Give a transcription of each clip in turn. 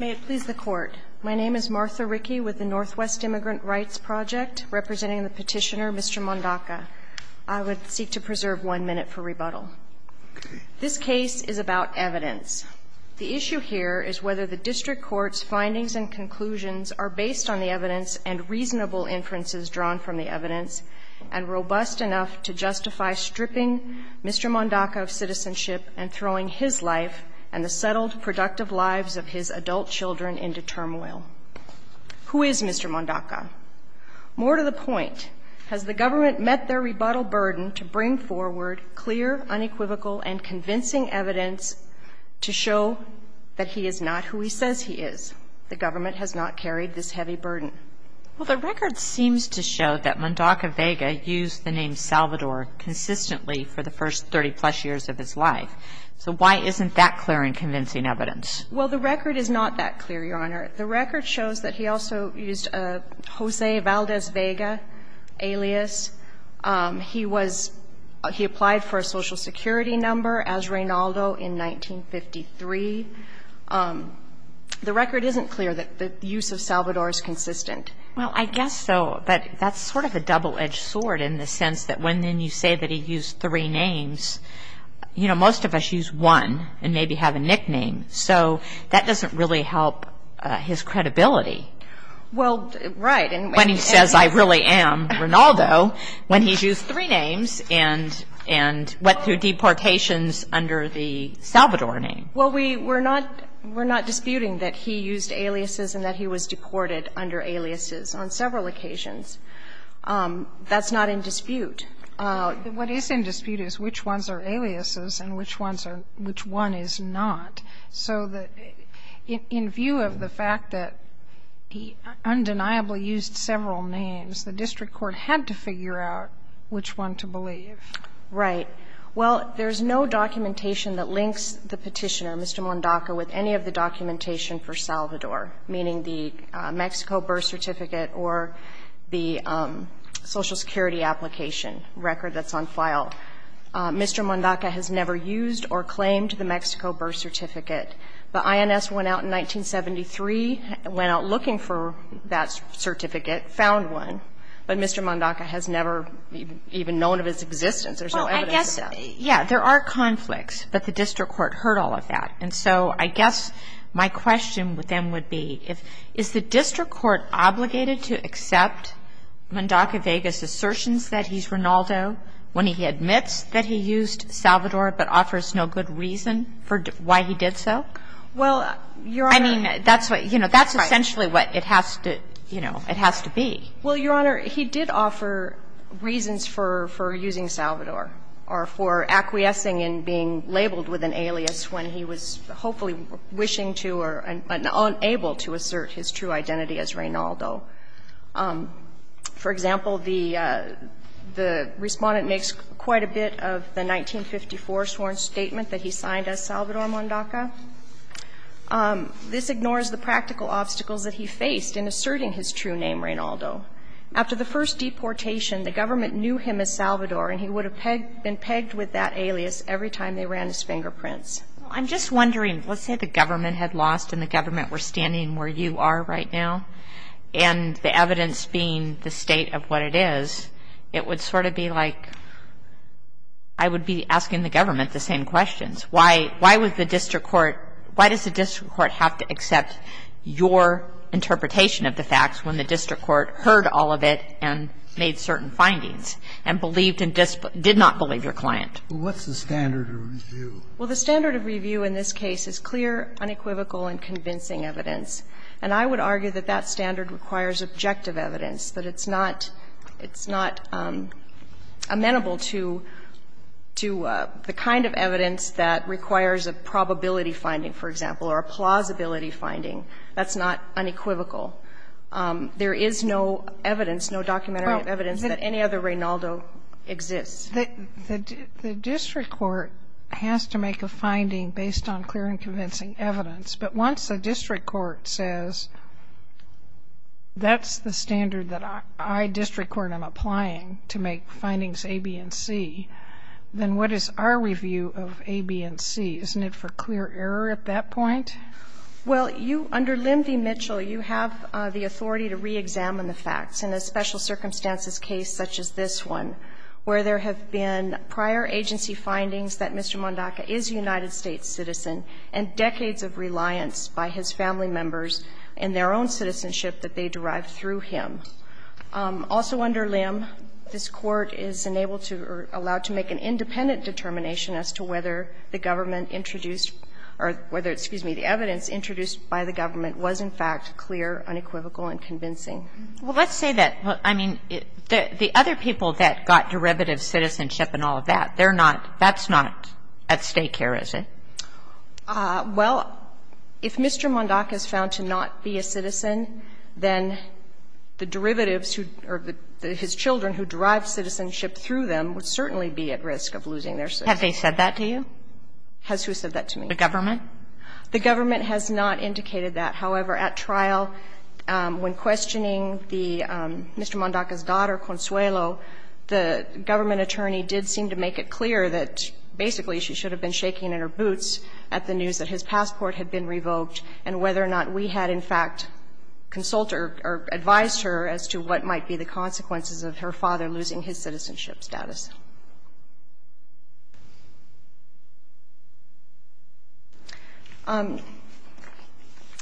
May it please the Court. My name is Martha Rickey with the Northwest Immigrant Rights Project, representing the petitioner Mr. Mondaca. I would seek to preserve one minute for rebuttal. This case is about evidence. The issue here is whether the District Court's findings and conclusions are based on the evidence and reasonable inferences drawn from the evidence and robust enough to justify stripping Mr. Mondaca of his adult children into turmoil. Who is Mr. Mondaca? More to the point, has the government met their rebuttal burden to bring forward clear, unequivocal, and convincing evidence to show that he is not who he says he is? The government has not carried this heavy burden. Well, the record seems to show that Mondaca-Vega used the name Salvador consistently for the first 30-plus years of his life. So why isn't that clear and convincing evidence? Well, the record is not that clear, Your Honor. The record shows that he also used a Jose Valdez-Vega alias. He was he applied for a Social Security number as Reynaldo in 1953. The record isn't clear that the use of Salvador is consistent. Well, I guess so, but that's sort of a double-edged sword in the sense that when then you say that he used three names, you know, most of us would choose one and maybe have a nickname. So that doesn't really help his credibility. Well, right. And when he says I really am Reynaldo, when he used three names and went through deportations under the Salvador name. Well, we're not disputing that he used aliases and that he was deported under aliases on several occasions. That's not in dispute. What is in dispute is which ones are aliases and which ones are, which one is not. So the, in view of the fact that he undeniably used several names, the district court had to figure out which one to believe. Right. Well, there's no documentation that links the petitioner, Mr. Mondaca, with any of the documentation for Salvador, meaning the Mexico birth certificate or the Social Security application record that's on file. Mr. Mondaca has never used or claimed the Mexico birth certificate. The INS went out in 1973, went out looking for that certificate, found one, but Mr. Mondaca has never even known of its existence. There's no evidence of that. Yeah. There are conflicts, but the district court heard all of that. And so I guess my question with them would be, is the district court obligated to accept Mondaca Vegas' assertions that he's Reynaldo when he admits that he used Salvador but offers no good reason for why he did so? Well, Your Honor. I mean, that's what, you know, that's essentially what it has to, you know, it has to be. Well, Your Honor, he did offer reasons for using Salvador or for acquiescing in being labeled with an alias when he was hopefully wishing to or unable to assert his true identity as Reynaldo. For example, the Respondent makes quite a bit of the 1954 sworn statement that he signed as Salvador Mondaca. This ignores the practical obstacles that he faced in asserting his true name, Reynaldo. After the first deportation, the government knew him as Salvador, and he would have been pegged with that alias every time they ran his fingerprints. Well, I'm just wondering, let's say the government had lost and the government were standing where you are right now, and the evidence being the state of what it is, it would sort of be like I would be asking the government the same questions. Why was the district court – why does the district court have to accept your interpretation of the facts when the district court heard all of it and made certain findings and believed in – did not believe your client? Well, what's the standard of review? Well, the standard of review in this case is clear, unequivocal, and convincing evidence, and I would argue that that standard requires objective evidence, that it's not – it's not amenable to the kind of evidence that requires a probability finding, for example, or a plausibility finding. That's not unequivocal. There is no evidence, no documentary evidence that any other Reynaldo exists. The district court has to make a finding based on clear and convincing evidence, but once the district court says that's the standard that I, district court, am applying to make findings A, B, and C, then what is our review of A, B, and C? Isn't it for clear error at that point? Well, you – under Limvey-Mitchell, you have the authority to reexamine the facts in a special circumstances case such as this one, where there have been prior agency findings that Mr. Mondaca is a United States citizen and decades of reliance by his family members in their own citizenship that they derived through him. Also under Lim, this Court is enabled to or allowed to make an independent determination as to whether the government introduced or whether, excuse me, the evidence introduced by the government was in fact clear, unequivocal, and convincing. Well, let's say that, I mean, the other people that got derivative citizenship and all of that, they're not – that's not at stake here, is it? Well, if Mr. Mondaca is found to not be a citizen, then the derivatives or his children who derived citizenship through them would certainly be at risk of losing their citizenship. Have they said that to you? Has who said that to me? The government. The government has not indicated that. However, at trial, when questioning the – Mr. Mondaca's daughter, Consuelo, the government attorney did seem to make it clear that basically she should have been shaking in her boots at the news that his passport had been revoked and whether or not we had in fact consulted or advised her as to what might be the consequences of her father losing his citizenship status.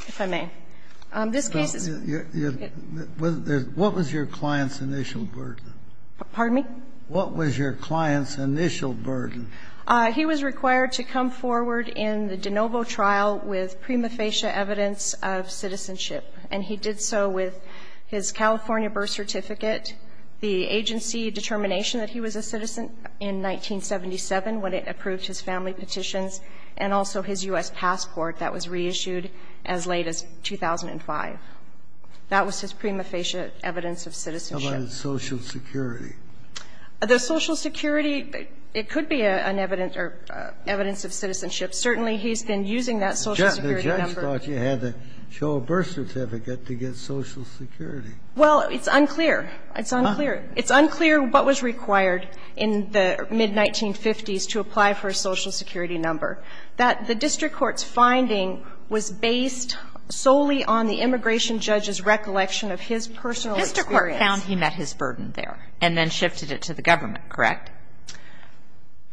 If I may. This case is – What was your client's initial burden? Pardon me? What was your client's initial burden? He was required to come forward in the de novo trial with prima facie evidence of citizenship, and he did so with his California birth certificate, the agency determination that he was a citizen in 1977 when it approved his family petitions, and also his U.S. passport that was reissued as late as 2005. That was his prima facie evidence of citizenship. How about his Social Security? The Social Security, it could be an evidence or evidence of citizenship. Certainly, he's been using that Social Security number. The judge thought you had to show a birth certificate to get Social Security. Well, it's unclear. It's unclear. It's unclear what was required in the mid-1950s to apply for a Social Security number, that the district court's finding was based solely on the immigration judge's recollection of his personal experience. Mr. Court found he met his burden there and then shifted it to the government, correct?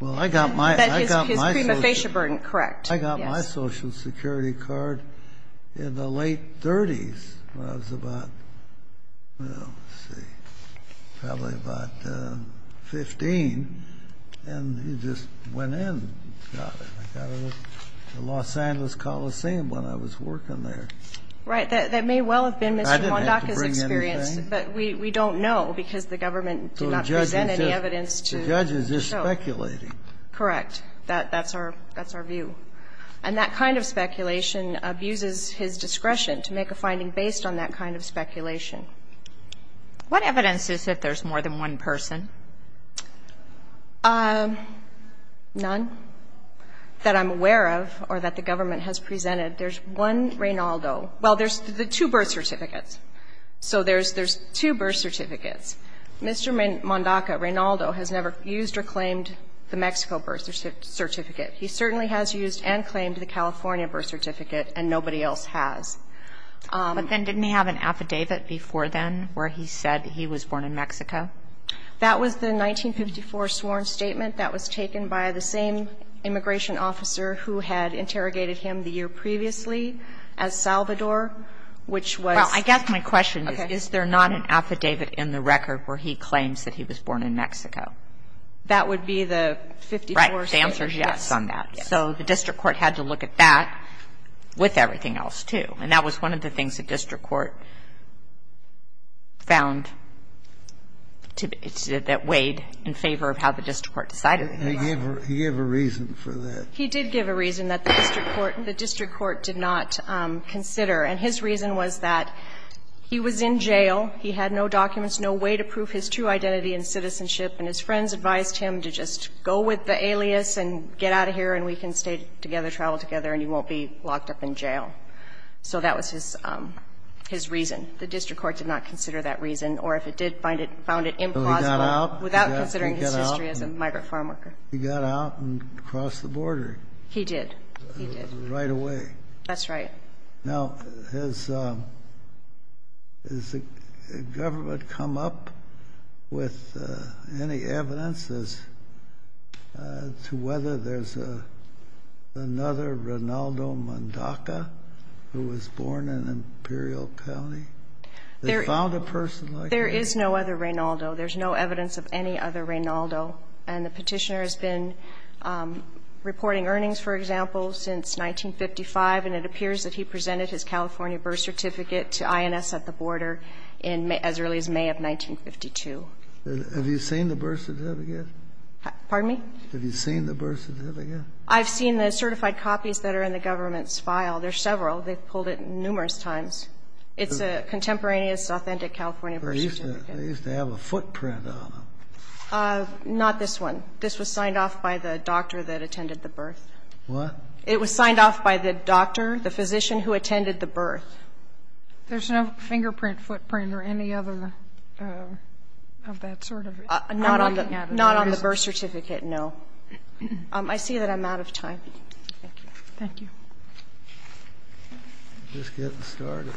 Well, I got my – I got my Social Security. His prima facie burden, correct. I got my Social Security card in the late 30s when I was about, well, let's see. Probably about 15, and he just went in and got it. I got it at the Los Angeles Coliseum when I was working there. Right. That may well have been Mr. Mondaca's experience. I didn't have to bring anything. But we don't know because the government did not present any evidence to show. The judge is just speculating. Correct. That's our – that's our view. And that kind of speculation abuses his discretion to make a finding based on that kind of speculation. What evidence is that there's more than one person? None that I'm aware of or that the government has presented. There's one Reynaldo. Well, there's the two birth certificates. So there's two birth certificates. Mr. Mondaca, Reynaldo, has never used or claimed the Mexico birth certificate. He certainly has used and claimed the California birth certificate, and nobody else has. But then didn't he have an affidavit before then where he said he was born in Mexico? That was the 1954 sworn statement that was taken by the same immigration officer who had interrogated him the year previously as Salvador, which was – Well, I guess my question is, is there not an affidavit in the record where he claims that he was born in Mexico? That would be the 54 – Right. The answer is yes on that. Yes. So the district court had to look at that with everything else, too. And that was one of the things the district court found that weighed in favor of how the district court decided. He gave a reason for that. He did give a reason that the district court did not consider. And his reason was that he was in jail, he had no documents, no way to prove his true identity and citizenship, and his friends advised him to just go with the alias and get out of here and we can stay together, travel together, and he won't be locked up in jail. So that was his reason. The district court did not consider that reason. Or if it did, found it implausible. So he got out? Without considering his history as a migrant farm worker. He got out and crossed the border. He did. He did. Right away. That's right. Now, has the government come up with any evidence as to whether there's another Reynaldo Mondaca who was born in Imperial County? They found a person like that? There is no other Reynaldo. There's no evidence of any other Reynaldo. And the petitioner has been reporting earnings, for example, since 1955, and it appears that he presented his California birth certificate to INS at the border as early as May of 1952. Have you seen the birth certificate? Pardon me? Have you seen the birth certificate? I've seen the certified copies that are in the government's file. There's several. They've pulled it numerous times. It's a contemporaneous authentic California birth certificate. They used to have a footprint on them. Not this one. This was signed off by the doctor that attended the birth. What? It was signed off by the doctor, the physician who attended the birth. There's no fingerprint, footprint, or any other of that sort? Not on the birth certificate, no. I see that I'm out of time. Thank you. Thank you. I'm just getting started.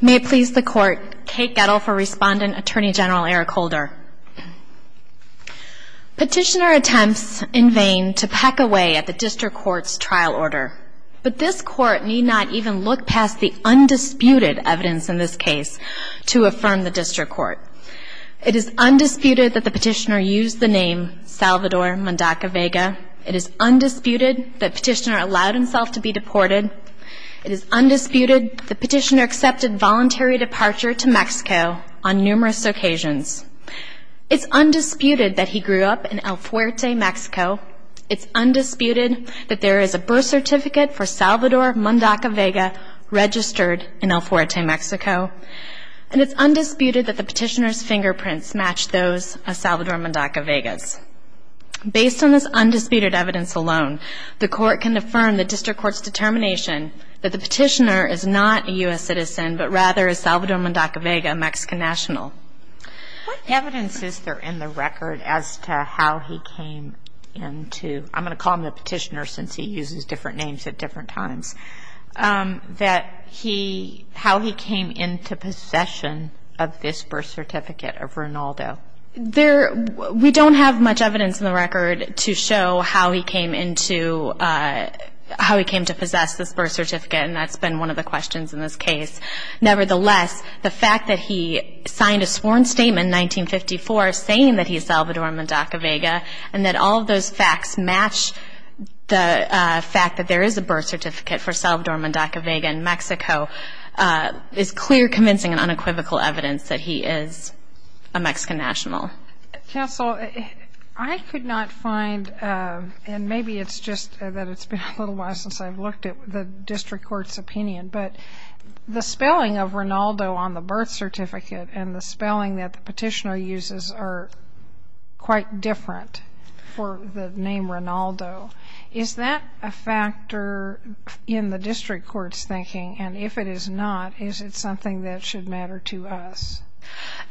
May it please the Court, Kate Gettle for Respondent, Attorney General Eric Holder. Petitioner attempts in vain to peck away at the district court's trial order, but this court need not even look past the undisputed evidence in this case to affirm the district court. It is undisputed that the petitioner used the name Salvador Mondaca Vega. It is undisputed that petitioner allowed himself to be deported. It is undisputed the petitioner accepted voluntary departure to Mexico on numerous occasions. It's undisputed that he grew up in El Fuerte, Mexico. It's undisputed that there is a birth certificate for Salvador Mondaca Vega registered in El Fuerte, Mexico. And it's undisputed that the petitioner's fingerprints match those of Salvador Mondaca Vega's. Based on this undisputed evidence alone, the court can affirm the district court's determination that the petitioner is not a U.S. citizen, but rather is Salvador Mondaca Vega a Mexican national. What evidence is there in the record as to how he came into, I'm going to call him the petitioner since he uses different names at different times, that he, how he came into possession of this birth certificate of Ronaldo? There, we don't have much evidence in the record to show how he came into, how he came to possess this birth certificate, and that's been one of the questions in this case. Nevertheless, the fact that he signed a sworn statement in 1954 saying that he's Salvador Mondaca Vega and that all of those facts match the fact that there is a birth certificate for Salvador Mondaca Vega in Mexico is clear, convincing, and unequivocal evidence that he is a Mexican national. Counsel, I could not find, and maybe it's just that it's been a little while since I've looked at the district court's opinion, but the spelling of Ronaldo on the birth certificate and the spelling that the petitioner uses are quite different for the name Ronaldo. Is that a factor in the district court's thinking? And if it is not, is it something that should matter to us?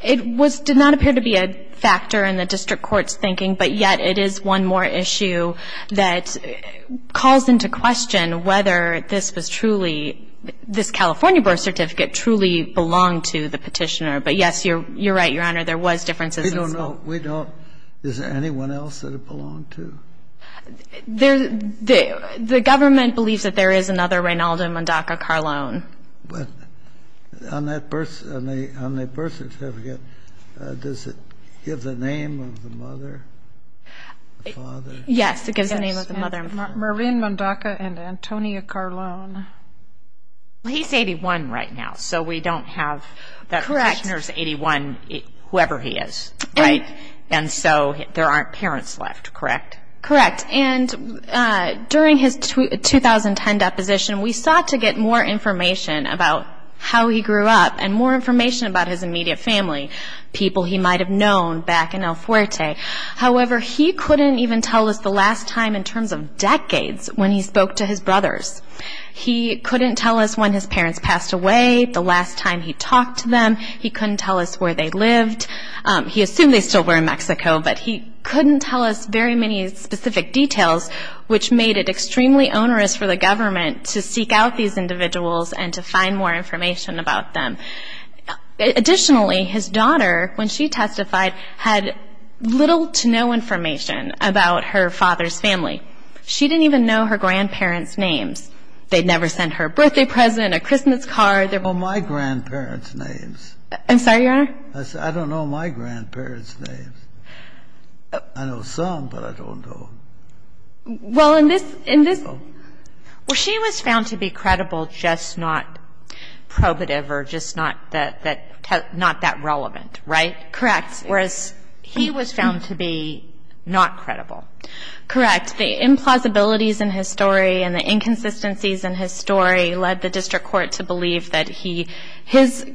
It did not appear to be a factor in the district court's thinking, but yet it is one more issue that calls into question whether this was truly, this California birth certificate truly belonged to the petitioner. But, yes, you're right, Your Honor, there was differences in spelling. We don't know. Is there anyone else that it belonged to? The government believes that there is another Ronaldo Mondaca Carlone. On that birth certificate, does it give the name of the mother, the father? Yes, it gives the name of the mother and father. Marin Mondaca and Antonia Carlone. He's 81 right now, so we don't have the petitioner's 81, whoever he is, right? And so there aren't parents left, correct? Correct. And during his 2010 deposition, we sought to get more information about how he grew up and more information about his immediate family, people he might have known back in El Fuerte. However, he couldn't even tell us the last time in terms of decades when he spoke to his brothers. He couldn't tell us when his parents passed away, the last time he talked to them. He couldn't tell us where they lived. He assumed they still were in Mexico, but he couldn't tell us very many specific details, which made it extremely onerous for the government to seek out these individuals and to find more information about them. Additionally, his daughter, when she testified, had little to no information about her father's family. She didn't even know her grandparents' names. They'd never sent her a birthday present, a Christmas card. I'm sorry, Your Honor? I said, I don't know my grandparents' names. I know some, but I don't know. Well, in this ‑‑ Well, she was found to be credible, just not probative or just not that relevant, right? Correct. Whereas he was found to be not credible. Correct. The implausibilities in his story and the inconsistencies in his story led the district court to believe that his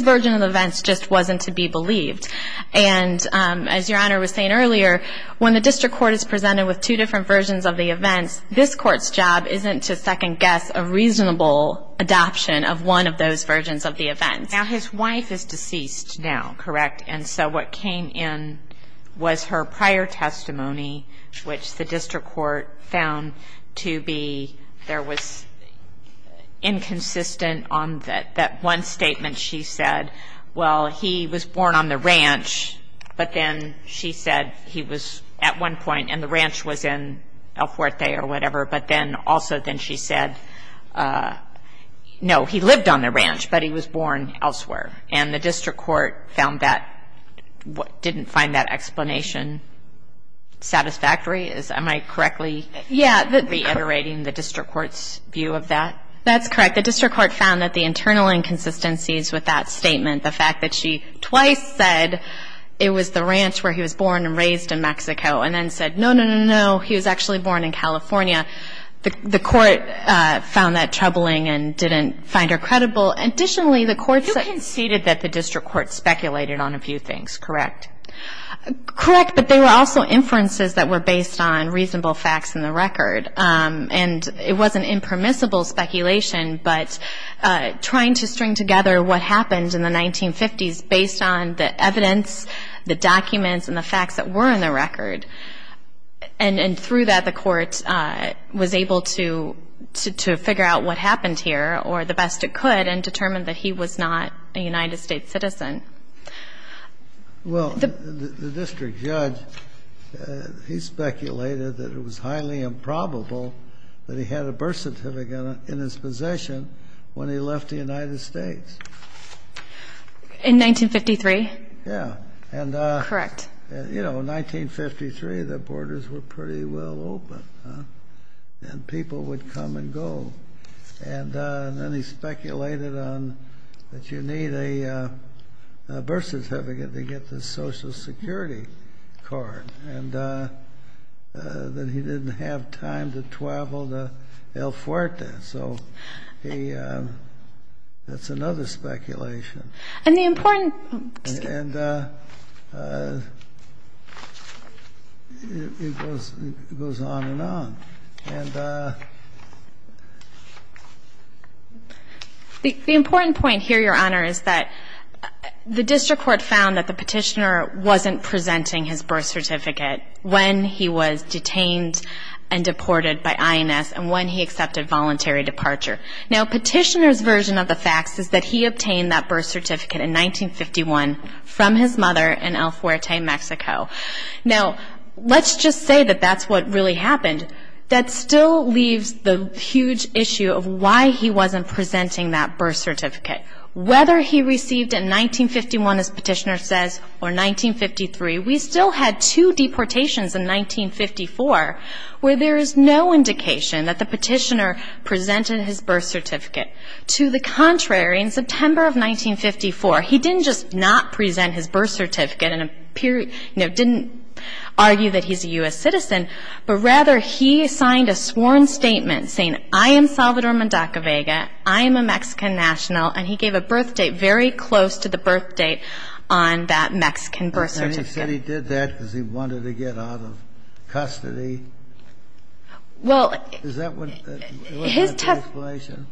version of the events just wasn't to be believed. And as Your Honor was saying earlier, when the district court is presented with two different versions of the events, this court's job isn't to second guess a reasonable adoption of one of those versions of the events. Now, his wife is deceased now, correct? And so what came in was her prior testimony, which the district court found to be there was inconsistent on that one statement she said, well, he was born on the ranch, but then she said he was at one point, and the ranch was in El Fuerte or whatever, but then also then she said, no, he lived on the ranch, but he was born elsewhere. And the district court found that, didn't find that explanation satisfactory? Am I correctly reiterating the district court's view of that? That's correct. The district court found that the internal inconsistencies with that statement, the fact that she twice said it was the ranch where he was born and raised in Mexico and then said, no, no, no, no, he was actually born in California, the court found that troubling and didn't find her credible. You conceded that the district court speculated on a few things, correct? Correct, but there were also inferences that were based on reasonable facts in the record, and it was an impermissible speculation, but trying to string together what happened in the 1950s based on the evidence, the documents, and the facts that were in the record, and through that the court was able to figure out what happened here, or the best it could, and determine that he was not a United States citizen. Well, the district judge, he speculated that it was highly improbable that he had a birth certificate in his possession when he left the United States. In 1953? Yeah. Correct. You know, 1953, the borders were pretty well open, and people would come and go. And then he speculated that you need a birth certificate to get the Social Security card, and that he didn't have time to travel to El Fuerte. So that's another speculation. And the important... And it goes on and on. The important point here, Your Honor, is that the district court found that the petitioner wasn't presenting his birth certificate when he was detained and deported by INS and when he accepted voluntary departure. Now, petitioner's version of the facts is that he obtained that birth certificate in 1951 from his mother in El Fuerte, Mexico. Now, let's just say that that's what really happened, that still leaves the huge issue of why he wasn't presenting that birth certificate. Whether he received it in 1951, as petitioner says, or 1953, we still had two deportations in 1954 where there is no indication that the petitioner presented his birth certificate. To the contrary, in September of 1954, he didn't just not present his birth certificate and didn't argue that he's a U.S. citizen, but rather he signed a sworn statement saying, I am Salvador Mondaca Vega, I am a Mexican national, and he gave a birth date very close to the birth date on that Mexican birth certificate. He said he did that because he wanted to get out of custody? Well... Is that what... His testimony... Was that the explanation?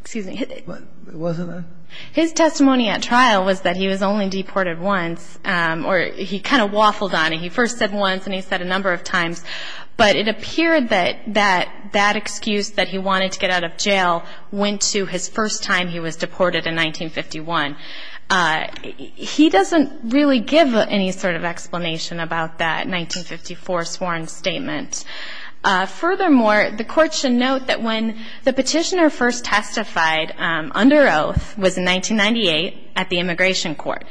Excuse me. Wasn't it? His testimony at trial was that he was only deported once, or he kind of waffled on it. He first said once and he said a number of times, but it appeared that that excuse that he wanted to get out of jail went to his first time he was deported in 1951. He doesn't really give any sort of explanation about that 1954 sworn statement. Furthermore, the Court should note that when the petitioner first testified under oath, it was in 1998 at the Immigration Court,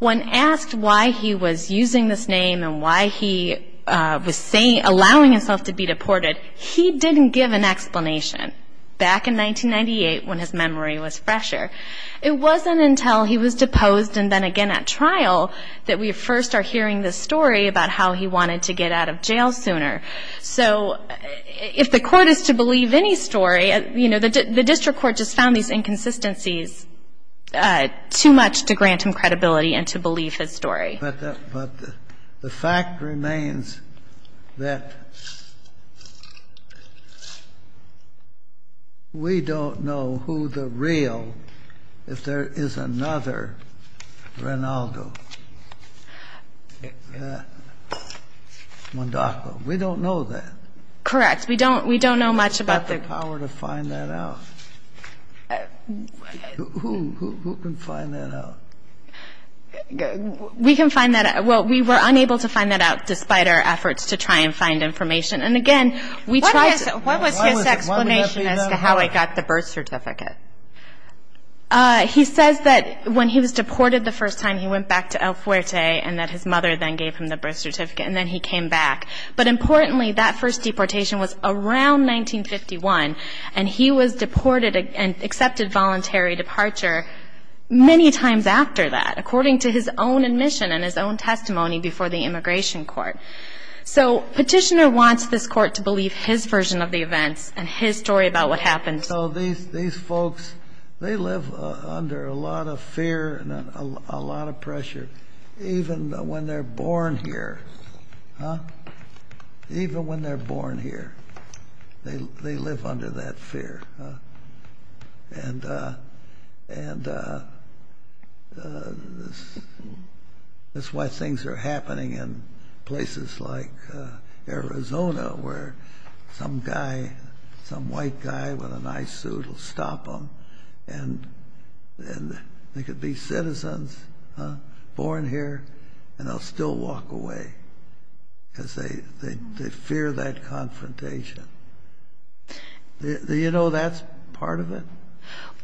when asked why he was using this name and why he was allowing himself to be deported, he didn't give an explanation back in 1998 when his memory was fresher. It wasn't until he was deposed and then again at trial that we first are hearing this story about how he wanted to get out of jail sooner. So if the Court is to believe any story, you know, the district court just found these inconsistencies too much to grant him credibility and to believe his story. But the fact remains that we don't know who the real, if there is another, Rinaldo Mondacco. We don't know that. Correct. We don't, we don't know much about the. He's got the power to find that out. Who, who can find that out? We can find that out. Well, we were unable to find that out despite our efforts to try and find information. And again, we tried to. What was his explanation as to how he got the birth certificate? He says that when he was deported the first time, he went back to El Fuerte and that his mother then gave him the birth certificate and then he came back. But importantly, that first deportation was around 1951 and he was deported and accepted voluntary departure many times after that, according to his own admission and his own testimony before the Immigration Court. So Petitioner wants this Court to believe his version of the events and his story about what happened. So these, these folks, they live under a lot of fear and a lot of pressure, even when they're born here. Huh? Even when they're born here, they, they live under that fear. And, and this, this is why things are happening in places like Arizona where some guy, some white guy with a nice suit will stop them and, and they could be citizens, huh, born here, and they'll still walk away because they, they, they fear that confrontation. Do you know that's part of it?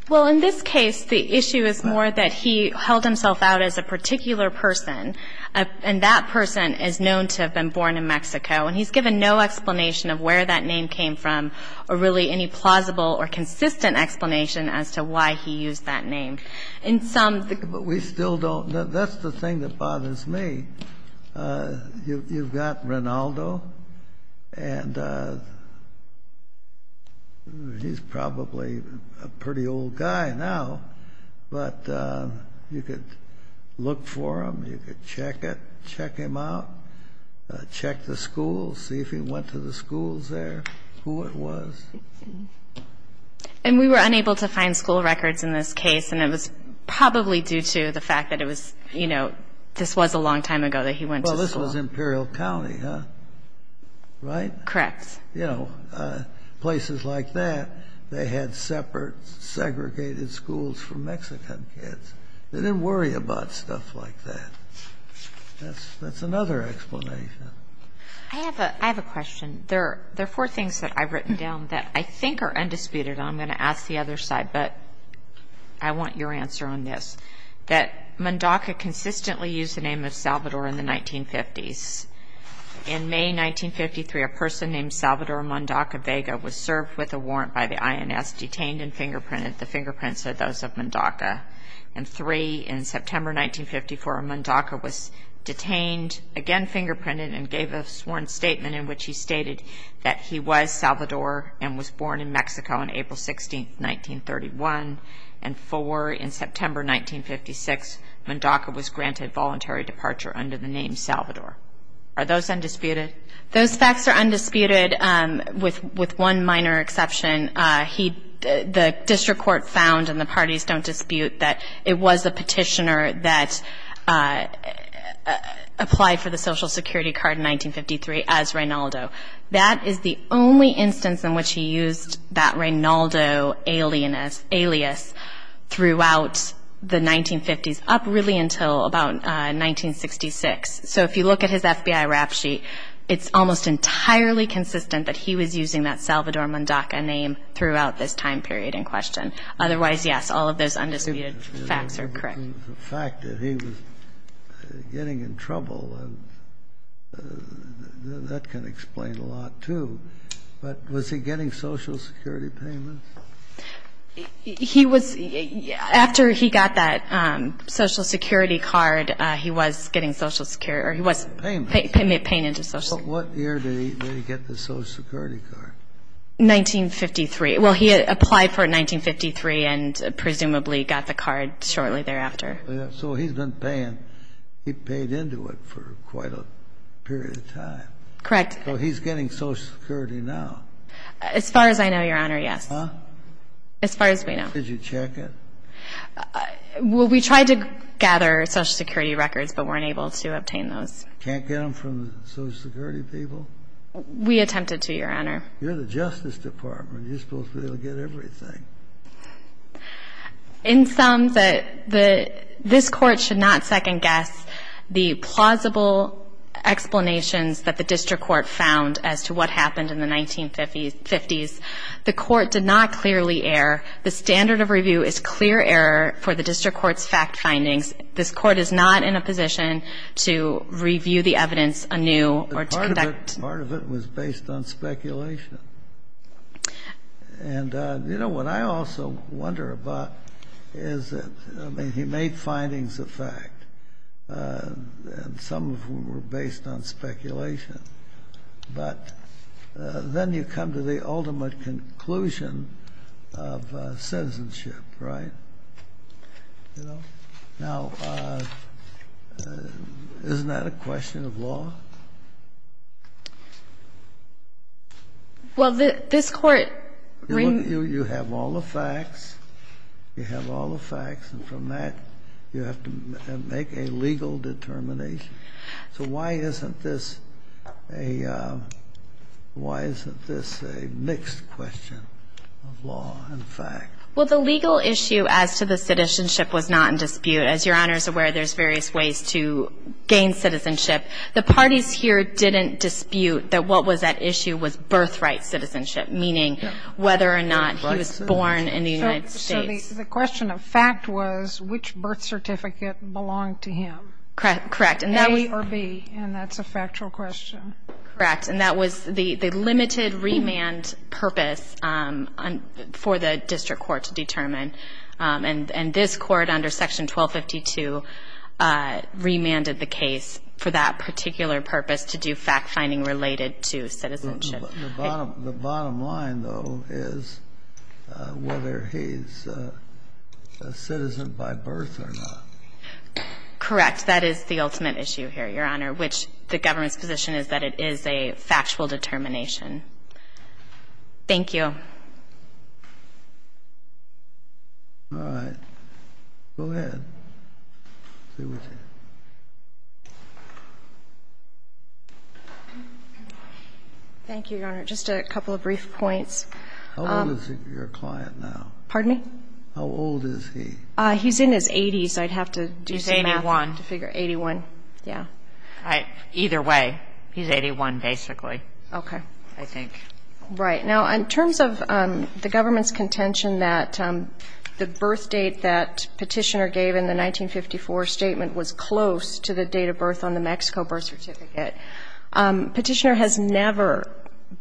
Well, in this case, the issue is more that he held himself out as a particular person and that person is known to have been born in Mexico. And he's given no explanation of where that name came from or really any plausible or consistent explanation as to why he used that name. In some of the... But we still don't know. That's the thing that bothers me. You, you've got Rinaldo, and he's probably a pretty old guy now, but you could look for him, you could check it, check him out, check the schools, see if he went to the schools there, who it was. And we were unable to find school records in this case, and it was probably due to the fact that it was, you know, this was a long time ago that he went to school. Well, this was Imperial County, huh? Right? Correct. You know, places like that, they had separate, segregated schools for Mexican kids. They didn't worry about stuff like that. That's, that's another explanation. I have a question. There are four things that I've written down that I think are undisputed, and I'm going to ask the other side, but I want your answer on this. That Mondaca consistently used the name of Salvador in the 1950s. In May 1953, a person named Salvador Mondaca Vega was served with a warrant by the INS, The fingerprints are those of Mondaca. And three, in September 1954, Mondaca was detained, again fingerprinted, and gave a sworn statement in which he stated that he was Salvador and was born in Mexico on April 16, 1931. And four, in September 1956, Mondaca was granted voluntary departure under the name Salvador. Are those undisputed? Those facts are undisputed, with one minor exception. The district court found, and the parties don't dispute, that it was the petitioner that applied for the Social Security card in 1953 as Reynaldo. That is the only instance in which he used that Reynaldo alias throughout the 1950s, up really until about 1966. So if you look at his FBI rap sheet, it's almost entirely consistent that he was using that Salvador Mondaca name throughout this time period in question. Otherwise, yes, all of those undisputed facts are correct. The fact that he was getting in trouble, that can explain a lot, too. But was he getting Social Security payments? He was. After he got that Social Security card, he was getting Social Security or he was paying into Social Security. What year did he get the Social Security card? 1953. Well, he applied for it in 1953 and presumably got the card shortly thereafter. So he's been paying. He paid into it for quite a period of time. Correct. So he's getting Social Security now. As far as I know, Your Honor, yes. Huh? As far as we know. Did you check it? Well, we tried to gather Social Security records but weren't able to obtain those. Can't get them from the Social Security people? We attempted to, Your Honor. You're the Justice Department. You're supposed to be able to get everything. In sum, this Court should not second-guess the plausible explanations that the District Court found as to what happened in the 1950s. The Court did not clearly err. The standard of review is clear error for the District Court's fact findings. This Court is not in a position to review the evidence anew or to conduct. Part of it was based on speculation. And, you know, what I also wonder about is that, I mean, he made findings of fact, and some of them were based on speculation. But then you come to the ultimate conclusion of citizenship, right? You know? Well, this Court. You have all the facts. You have all the facts. And from that, you have to make a legal determination. So why isn't this a mixed question of law and fact? Well, the legal issue as to the citizenship was not in dispute. As Your Honor is aware, there's various ways to gain citizenship. The parties here didn't dispute that what was at issue was birthright citizenship, meaning whether or not he was born in the United States. So the question of fact was which birth certificate belonged to him? Correct. A or B. And that's a factual question. Correct. And that was the limited remand purpose for the District Court to determine. And this Court under Section 1252 remanded the case for that particular purpose to do fact-finding related to citizenship. The bottom line, though, is whether he's a citizen by birth or not. Correct. That is the ultimate issue here, Your Honor, which the government's position is that it is a factual determination. Thank you. All right. Go ahead. Stay with it. Thank you, Your Honor. Just a couple of brief points. How old is your client now? Pardon me? How old is he? He's in his 80s. I'd have to do some math to figure. He's 81. 81, yeah. Either way, he's 81, basically. Okay. I think. Right. Now, in terms of the government's contention that the birth date that Petitioner gave in the 1954 statement was close to the date of birth on the Mexico birth certificate, Petitioner has never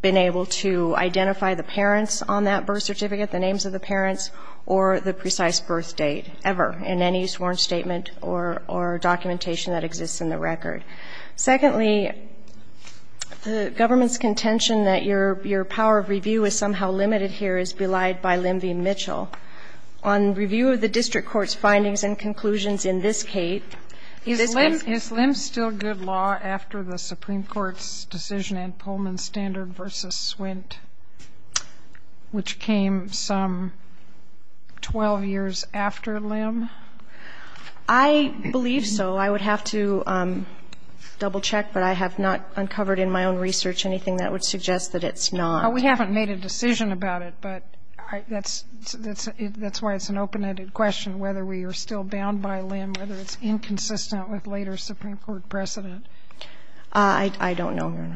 been able to identify the parents on that birth certificate, the names of the parents, or the precise birth date ever in any sworn statement or documentation that exists in the record. Secondly, the government's contention that your power of review is somehow limited here is belied by Limvey and Mitchell. On review of the district court's findings and conclusions in this case. Is Lim still good law after the Supreme Court's decision in Pullman Standard v. Swint, which came some 12 years after Lim? I believe so. I would have to double-check, but I have not uncovered in my own research anything that would suggest that it's not. We haven't made a decision about it, but that's why it's an open-ended question whether we are still bound by Lim, whether it's inconsistent with later Supreme Court precedent. I don't know.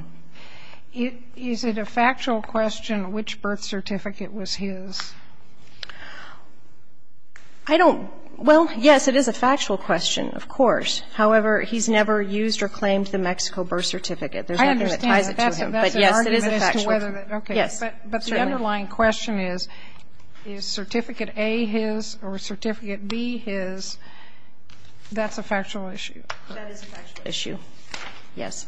Is it a factual question which birth certificate was his? I don't. Well, yes, it is a factual question, of course. However, he's never used or claimed the Mexico birth certificate. There's nothing that ties it to him. But, yes, it is a factual question. Yes. But the underlying question is, is certificate A his or certificate B his? That's a factual issue. That is a factual issue. Yes.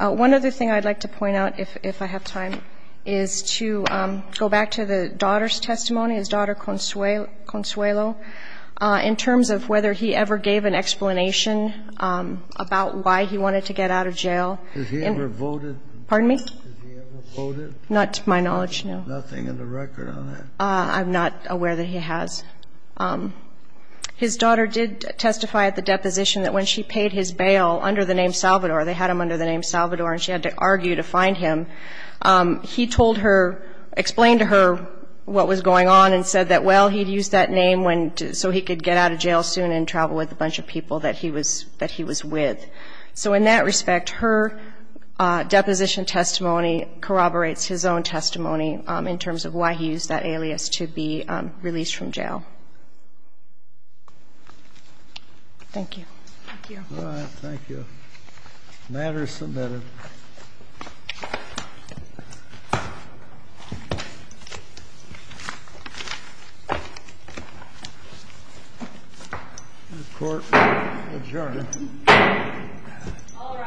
One other thing I'd like to point out, if I have time, is to go back to the daughter's testimony, his daughter Consuelo, in terms of whether he ever gave an explanation about why he wanted to get out of jail. Has he ever voted? Pardon me? Has he ever voted? Not to my knowledge, no. Nothing in the record on that? I'm not aware that he has. His daughter did testify at the deposition that when she paid his bail under the name Salvador, they had him under the name Salvador, and she had to argue to find him. He told her, explained to her what was going on and said that, well, he'd used that name so he could get out of jail soon and travel with a bunch of people that he was with. So in that respect, her deposition testimony corroborates his own testimony in terms of why he used that alias to be released from jail. Thank you. Thank you. All right. Thank you. The matter is submitted. The court will adjourn. All rise.